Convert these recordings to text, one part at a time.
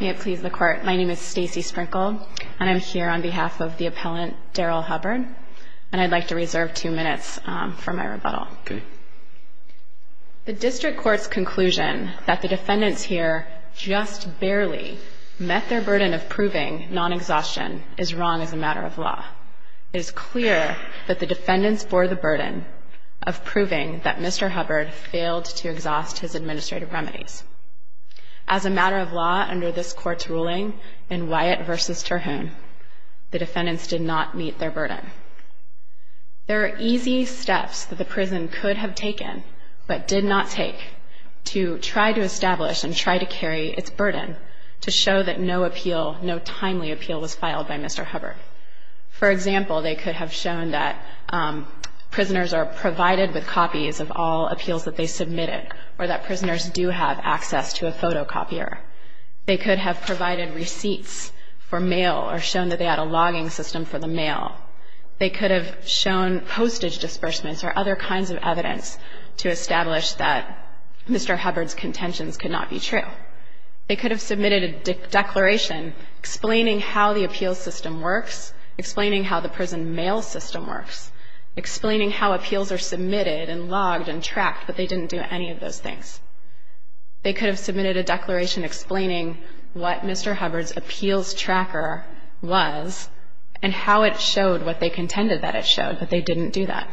May it please the Court, my name is Stacey Sprinkle and I'm here on behalf of the appellant Darryl Hubbard and I'd like to reserve two minutes for my rebuttal. The District Court's conclusion that the defendants here just barely met their burden of proving non-exhaustion is wrong as a matter of law. It is clear that the defendants bore the burden of proving that Mr. Hubbard failed to exhaust his administrative remedies. As a matter of law under this Court's ruling in Wyatt v. Terhune, the defendants did not meet their burden. There are easy steps that the prison could have taken but did not take to try to establish and try to carry its burden to show that no appeal, no timely appeal was filed by Mr. Hubbard. For example, they could have shown that prisoners are provided with copies of all appeals that they submitted or that prisoners do have access to a photocopier. They could have provided receipts for mail or shown that they had a logging system for the mail. They could have shown postage disbursements or other kinds of evidence to establish that Mr. Hubbard's contentions could not be true. They could have submitted a declaration explaining how the appeals system works, explaining how the prison mail system works, explaining how appeals are submitted and logged and tracked, but they didn't do any of those things. They could have submitted a declaration explaining what Mr. Hubbard's appeals tracker was and how it showed what they contended that it showed, but they didn't do that.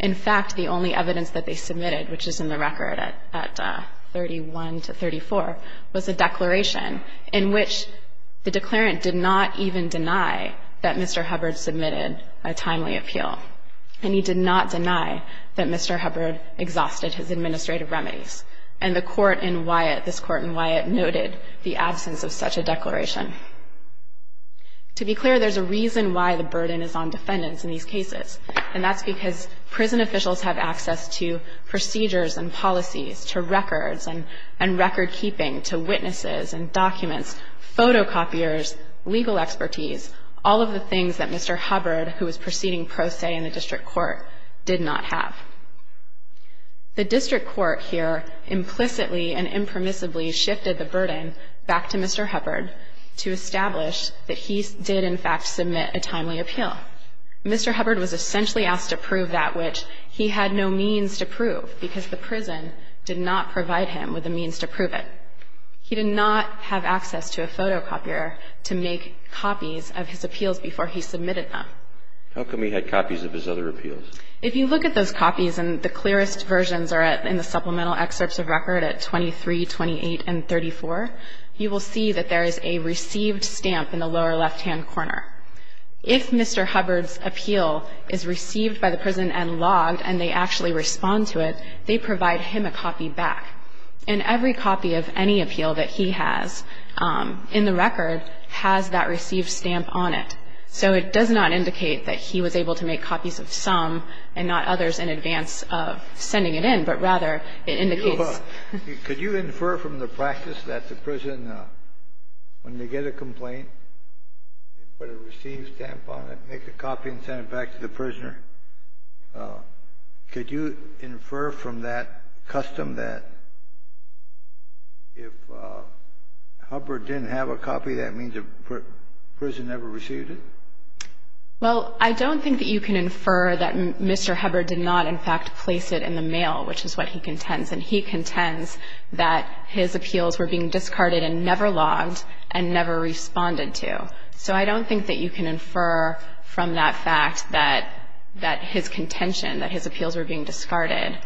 In fact, the only evidence that they submitted, which is in the record at 31 to 34, was a declaration in which the declarant did not even deny that Mr. Hubbard submitted a timely appeal, and he did not deny that Mr. Hubbard exhausted his administrative remedies. And the court in Wyatt, this court in Wyatt, noted the absence of such a declaration. To be clear, there's a reason why the burden is on defendants in these cases, and that's because prison officials have access to procedures and policies, to records and recordkeeping, to witnesses and documents, photocopiers, legal expertise, all of the things that Mr. Hubbard, who was proceeding pro se in the district court, did not have. The district court here implicitly and impermissibly shifted the burden back to Mr. Hubbard to establish that he did, in fact, submit a timely appeal. Mr. Hubbard was essentially asked to prove that which he had no means to prove because the prison did not provide him with the means to prove it. He did not have access to a photocopier to make copies of his appeals before he submitted them. How come he had copies of his other appeals? If you look at those copies, and the clearest versions are in the supplemental excerpts of record at 23, 28, and 34, you will see that there is a received stamp in the lower left-hand corner. If Mr. Hubbard's appeal is received by the prison and logged, and every copy of any appeal that he has in the record has that received stamp on it. So it does not indicate that he was able to make copies of some and not others in advance of sending it in, but rather, it indicates that he was able to make copies of some. Kennedy. Could you infer from the practice that the prison, when they get a complaint, they put a received stamp on it, make a copy and send it back to the prisoner? Could you infer from that custom that if Hubbard didn't have a copy, that means the prison never received it? Well, I don't think that you can infer that Mr. Hubbard did not, in fact, place it in the mail, which is what he contends. And he contends that his appeals were being discarded and never logged and never responded to. So I don't think that you can infer from that fact that his contention, that his appeals were being discarded,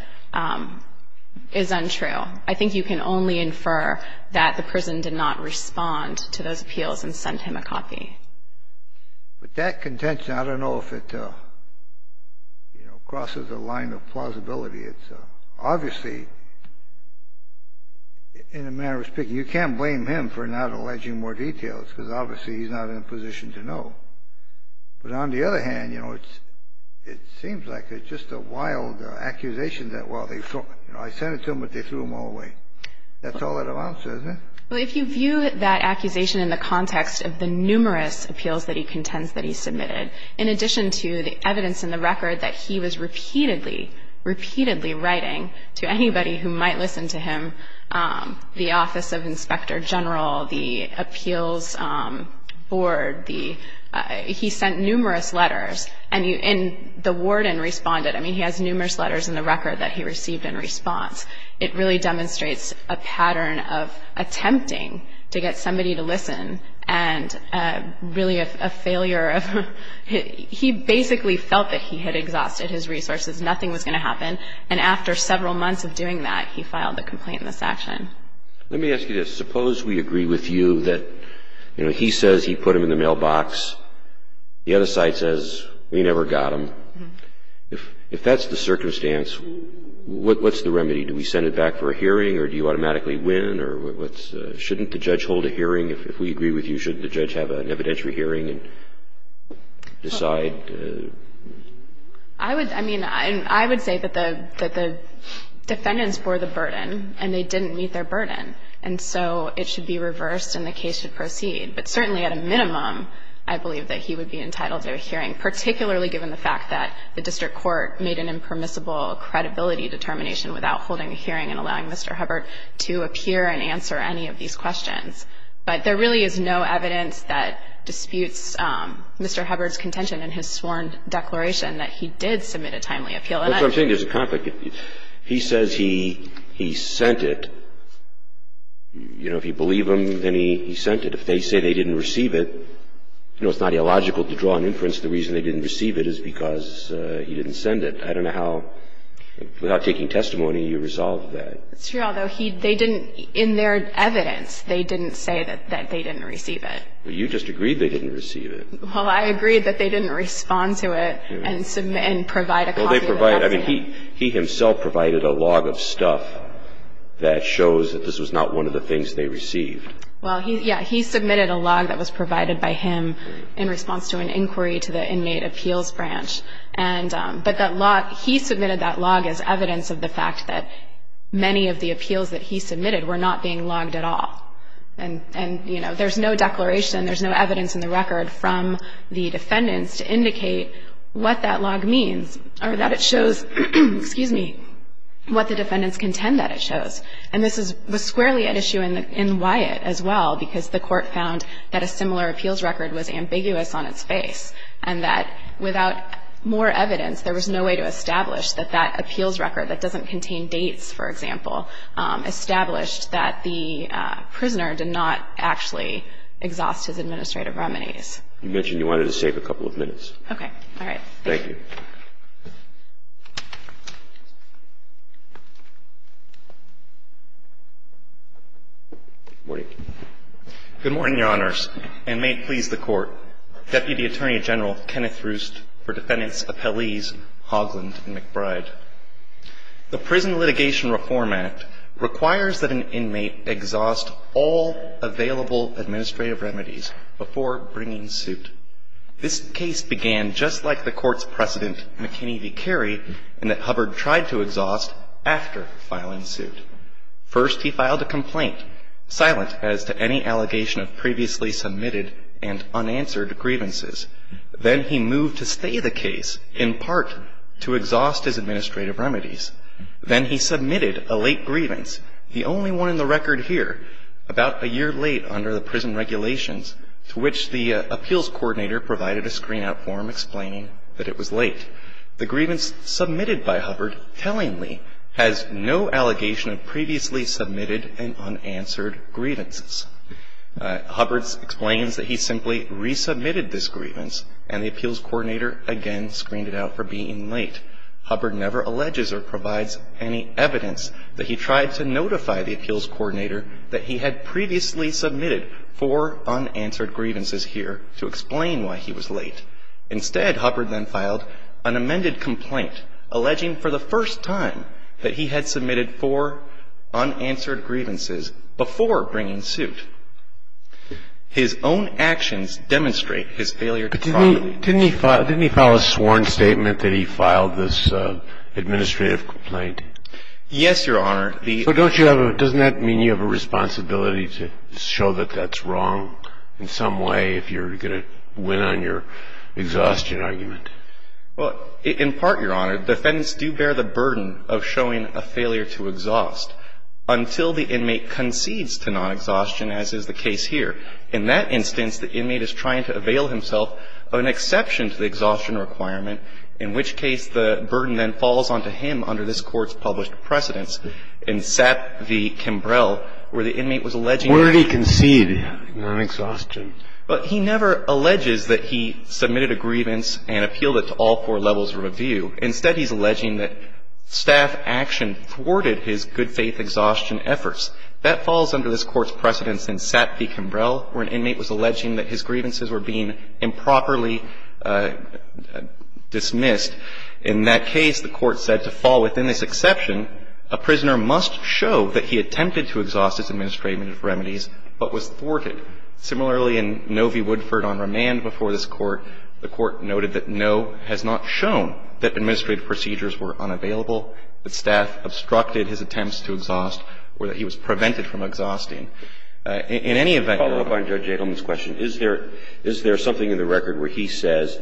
is untrue. I think you can only infer that the prison did not respond to those appeals and sent him a copy. But that contention, I don't know if it, you know, crosses the line of plausibility. It's obviously, in a manner of speaking, you can't blame him for not alleging more But on the other hand, you know, it seems like it's just a wild accusation that, well, they, you know, I sent it to them, but they threw them all away. That's all it amounts to, isn't it? Well, if you view that accusation in the context of the numerous appeals that he contends that he submitted, in addition to the evidence in the record that he was repeatedly, repeatedly writing to anybody who might listen to him, the Office of Inspector General, the appeals board, the he sent numerous letters. And the warden responded. I mean, he has numerous letters in the record that he received in response. It really demonstrates a pattern of attempting to get somebody to listen and really a failure of he basically felt that he had exhausted his resources, nothing was going to happen. And after several months of doing that, he filed the complaint in this action. Let me ask you this. Suppose we agree with you that, you know, he says he put them in the mailbox. The other side says, we never got them. If that's the circumstance, what's the remedy? Do we send it back for a hearing or do you automatically win? Or shouldn't the judge hold a hearing? If we agree with you, shouldn't the judge have an evidentiary hearing and decide? I would, I mean, I would say that the defendants bore the burden and they didn't meet their burden. And so it should be reversed and the case should proceed. But certainly at a minimum, I believe that he would be entitled to a hearing, particularly given the fact that the district court made an impermissible credibility determination without holding a hearing and allowing Mr. Hubbard to appear and answer any of these questions. But there really is no evidence that disputes Mr. Hubbard's contention in his sworn declaration that he did submit a timely appeal. That's what I'm saying. There's a conflict. He says he sent it. You know, if you believe him, then he sent it. If they say they didn't receive it, you know, it's not illogical to draw an inference the reason they didn't receive it is because he didn't send it. I don't know how, without taking testimony, you resolve that. It's true, although they didn't, in their evidence, they didn't say that they didn't receive it. Well, you just agreed they didn't receive it. Well, I agreed that they didn't respond to it and provide a copy of the document. I mean, he himself provided a log of stuff that shows that this was not one of the things they received. Well, yeah, he submitted a log that was provided by him in response to an inquiry to the inmate appeals branch. But that log, he submitted that log as evidence of the fact that many of the appeals that he submitted were not being logged at all. And, you know, there's no declaration, there's no evidence in the record from the defendants contend that it shows. And this was squarely at issue in Wyatt as well because the Court found that a similar appeals record was ambiguous on its face and that without more evidence, there was no way to establish that that appeals record that doesn't contain dates, for example, established that the prisoner did not actually exhaust his administrative remedies. You mentioned you wanted to save a couple of minutes. Okay. All right. Thank you. Good morning, Your Honors, and may it please the Court. Deputy Attorney General Kenneth Roost for defendants, appellees Hogland and McBride. The Prison Litigation Reform Act requires that an inmate exhaust all available administrative remedies before bringing suit. This case began just like the Court's precedent, McKinney v. Carey, in that Hubbard tried to exhaust after filing suit. First, he filed a complaint, silent as to any allegation of previously submitted and unanswered grievances. Then he moved to stay the case in part to exhaust his administrative remedies. Then he submitted a late grievance, the only one in the record here, about a year late under the prison regulations, to which the appeals coordinator provided a screen-out form explaining that it was late. The grievance submitted by Hubbard tellingly has no allegation of previously submitted and unanswered grievances. Hubbard explains that he simply resubmitted this grievance, and the appeals coordinator again screened it out for being late. Hubbard never alleges or provides any evidence that he tried to notify the appeals coordinator that he had previously submitted four unanswered grievances here to explain why he was late. Instead, Hubbard then filed an amended complaint alleging for the first time that he had submitted four unanswered grievances before bringing suit. His own actions demonstrate his failure to follow the rules. Didn't he file a sworn statement that he filed this administrative complaint? Yes, Your Honor. But don't you have a — doesn't that mean you have a responsibility to show that that's wrong in some way if you're going to win on your exhaustion argument? Well, in part, Your Honor, defendants do bear the burden of showing a failure to exhaust until the inmate concedes to non-exhaustion, as is the case here. In that instance, the inmate is trying to avail himself of an exception to the exhaustion requirement, in which case the burden then falls onto him under this Court's published precedence in Sap v. Kimbrell, where the inmate was alleging — Where did he concede non-exhaustion? He never alleges that he submitted a grievance and appealed it to all four levels of review. Instead, he's alleging that staff action thwarted his good-faith exhaustion efforts. That falls under this Court's precedence in Sap v. Kimbrell, where an inmate was alleging that his grievances were being improperly dismissed. In that case, the Court said to fall within this exception, a prisoner must show that he attempted to exhaust his administrative remedies, but was thwarted. Similarly, in Novi Woodford v. Remand before this Court, the Court noted that no has not shown that administrative procedures were unavailable, that staff obstructed his attempts to exhaust, or that he was prevented from exhausting. In any event — Follow-up on Judge Adelman's question. Is there something in the record where he says,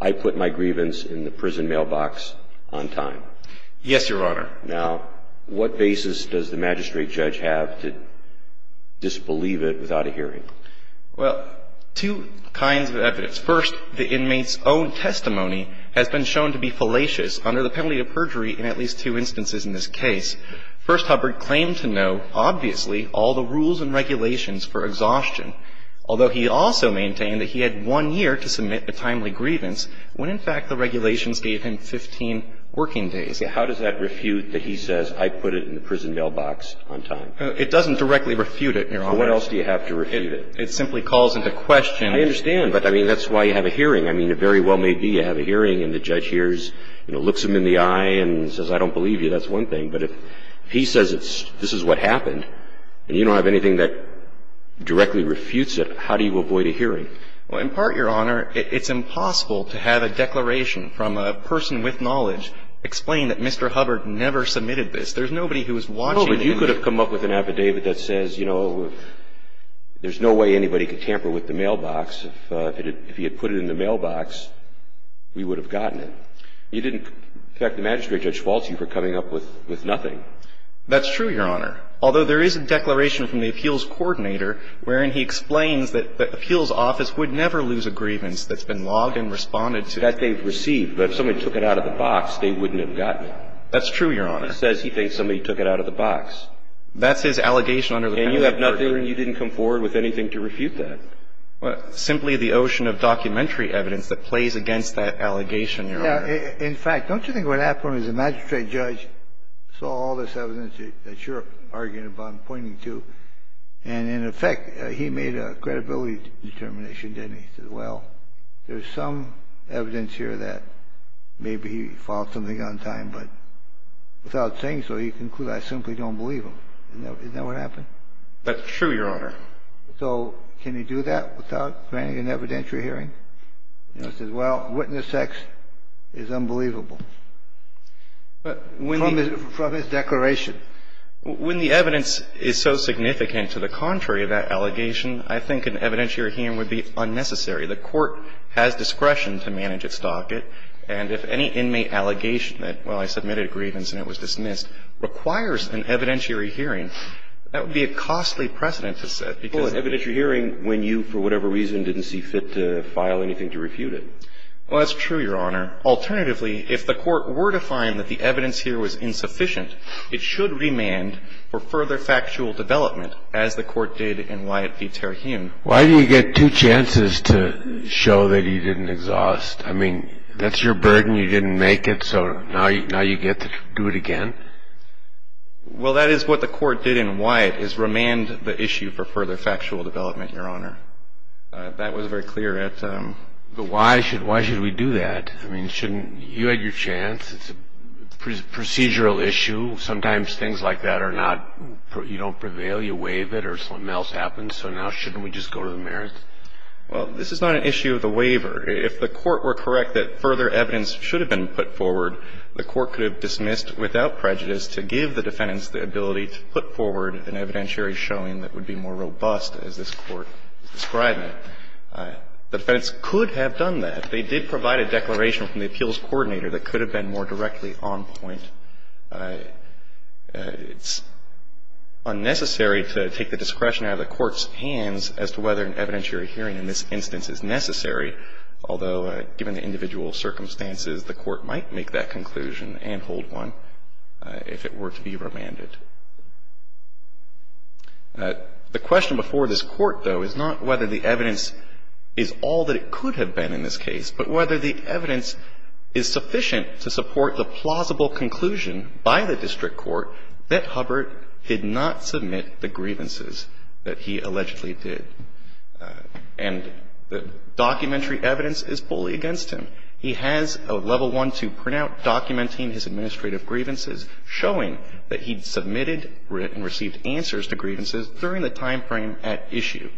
I put my grievance in the prison mailbox on time? Yes, Your Honor. Now, what basis does the magistrate judge have to disbelieve it without a hearing? Well, two kinds of evidence. First, the inmate's own testimony has been shown to be fallacious under the penalty of perjury in at least two instances in this case. First, Hubbard claimed to know, obviously, all the rules and regulations for exhaustion. Although he also maintained that he had one year to submit a timely grievance when, in fact, the regulations gave him 15 working days. How does that refute that he says, I put it in the prison mailbox on time? It doesn't directly refute it, Your Honor. Well, what else do you have to refute it? It simply calls into question — I understand. But, I mean, that's why you have a hearing. I mean, it very well may be you have a hearing and the judge hears, you know, looks him in the eye and says, I don't believe you. That's one thing. But if he says this is what happened and you don't have anything that directly refutes it, how do you avoid a hearing? Well, in part, Your Honor, it's impossible to have a declaration from a person with knowledge explain that Mr. Hubbard never submitted this. There's nobody who is watching the inmate. No, but you could have come up with an affidavit that says, you know, there's no way anybody could tamper with the mailbox. If he had put it in the mailbox, we would have gotten it. You didn't affect the magistrate, Judge Falsi, for coming up with nothing. That's true, Your Honor. Although there is a declaration from the appeals coordinator wherein he explains that the appeals office would never lose a grievance that's been logged and responded to. That they've received. But if somebody took it out of the box, they wouldn't have gotten it. That's true, Your Honor. It says he thinks somebody took it out of the box. That's his allegation under the penalty of murder. And you have nothing and you didn't come forward with anything to refute that. Simply the ocean of documentary evidence that plays against that allegation, you know. In fact, don't you think what happened was the magistrate judge saw all this evidence that you're arguing about and pointing to, and in effect, he made a credibility determination, didn't he? He said, well, there's some evidence here that maybe he filed something on time, but without saying so, he concluded I simply don't believe him. Isn't that what happened? That's true, Your Honor. So can you do that without granting an evidentiary hearing? You know, it says, well, witness X is unbelievable. From his declaration. When the evidence is so significant to the contrary of that allegation, I think an evidentiary hearing would be unnecessary. The Court has discretion to manage its docket. And if any inmate allegation that, well, I submitted a grievance and it was dismissed, requires an evidentiary hearing, that would be a costly precedent to set because it requires an evidentiary hearing when you, for whatever reason, didn't see fit to file anything to refute it. Well, that's true, Your Honor. Alternatively, if the Court were to find that the evidence here was insufficient, it should remand for further factual development as the Court did in Wyatt v. Terahume. Why do you get two chances to show that he didn't exhaust? I mean, that's your burden. You didn't make it, so now you get to do it again? Well, that is what the Court did in Wyatt, is remand the issue for further factual development, Your Honor. That was very clear at the time. But why should we do that? I mean, shouldn't you have your chance? It's a procedural issue. Sometimes things like that are not, you don't prevail, you waive it, or something else happens, so now shouldn't we just go to the merits? Well, this is not an issue of the waiver. If the Court were correct that further evidence should have been put forward, the Court could have dismissed without prejudice to give the defendants the ability to put forward an evidentiary showing that would be more robust, as this Court is describing. The defendants could have done that. They did provide a declaration from the appeals coordinator that could have been more directly on point. It's unnecessary to take the discretion out of the Court's hands as to whether an evidentiary hearing in this instance is necessary, although given the individual circumstances, the Court might make that conclusion and hold one if it were to be remanded. The question before this Court, though, is not whether the evidence is all that it could have been in this case, but whether the evidence is sufficient to support the plausible conclusion by the district court that Hubbard did not submit the grievances that he allegedly did. And the documentary evidence is fully against him. He has a Level I, II printout documenting his administrative grievances, showing that he submitted and received answers to grievances during the timeframe at issue.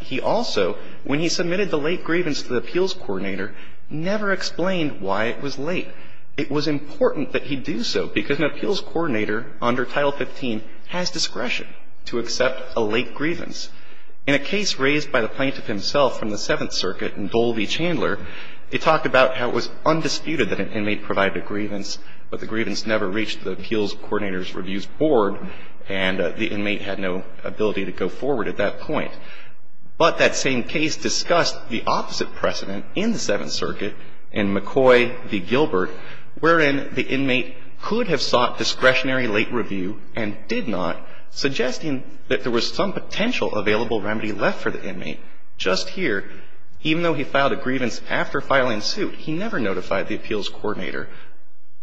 He also, when he submitted the late grievance to the appeals coordinator, never explained why it was late. It was important that he do so because an appeals coordinator under Title XV has discretion to accept a late grievance. In a case raised by the plaintiff himself from the Seventh Circuit in Dole v. Chandler, he talked about how it was undisputed that an inmate provided a grievance, but the grievance never reached the appeals coordinator's reviews board, and the inmate had no ability to go forward at that point. But that same case discussed the opposite precedent in the Seventh Circuit in McCoy v. Gilbert, wherein the inmate could have sought discretionary late review and did not, suggesting that there was some potential available remedy left for the inmate. Just here, even though he filed a grievance after filing suit, he never notified the appeals coordinator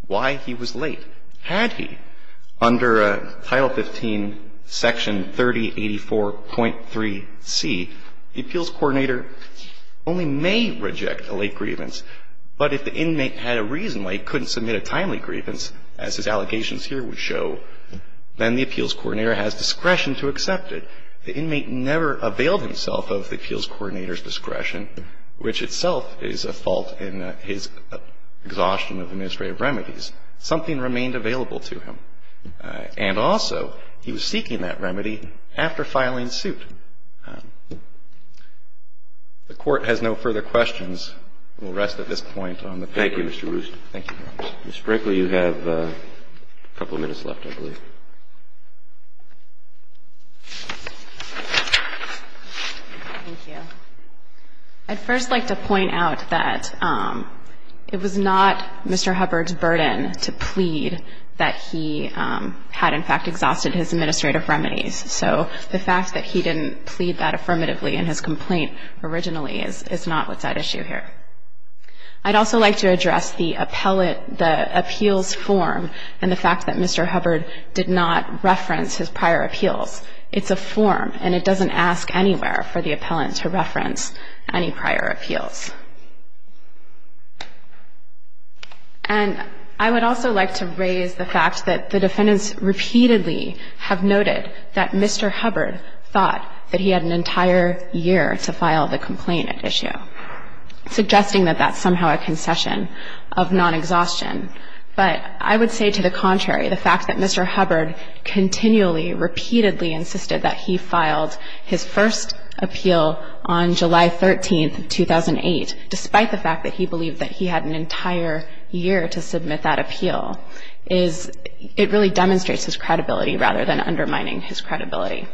why he was late. Had he, under Title XV, Section 3084.3c, the appeals coordinator only may reject a late grievance, but if the inmate had a reason why he couldn't submit a timely grievance, as his allegations here would show, then the appeals coordinator has discretion to accept it. The inmate never availed himself of the appeals coordinator's discretion, which itself is a fault in his exhaustion of administrative remedies. Something remained available to him. And also, he was seeking that remedy after filing suit. The Court has no further questions. We'll rest at this point on the paper. Thank you, Mr. Rooster. Thank you, Your Honor. Ms. Brinkley, you have a couple of minutes left, I believe. Thank you. I'd first like to point out that it was not Mr. Hubbard's burden to plead that he had, in fact, exhausted his administrative remedies. So the fact that he didn't plead that affirmatively in his complaint originally is not what's at issue here. I'd also like to address the appeals form and the fact that Mr. Hubbard did not reference his prior appeals. It's a form, and it doesn't ask anywhere for the appellant to reference any prior appeals. And I would also like to raise the fact that the defendants repeatedly have noted that Mr. Hubbard thought that he had an entire year to file the complaint at issue. Suggesting that that's somehow a concession of non-exhaustion. But I would say to the contrary, the fact that Mr. Hubbard continually, repeatedly insisted that he filed his first appeal on July 13th, 2008, despite the fact that he believed that he had an entire year to submit that appeal, it really demonstrates his credibility rather than undermining his credibility.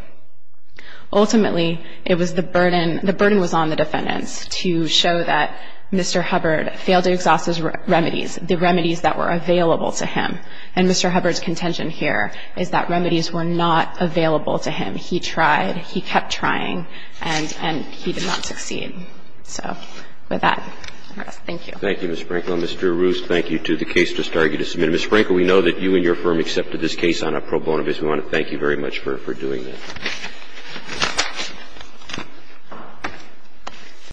Ultimately, it was the burden, the burden was on the defendants to show that Mr. Hubbard failed to exhaust his remedies, the remedies that were available to him. And Mr. Hubbard's contention here is that remedies were not available to him. He tried. He kept trying. And he did not succeed. So with that, thank you. Thank you, Ms. Frankel. And Mr. Roos, thank you, too. The case just argued to submit. Ms. Frankel, we know that you and your firm accepted this case on a pro bono basis. We want to thank you very much for doing this.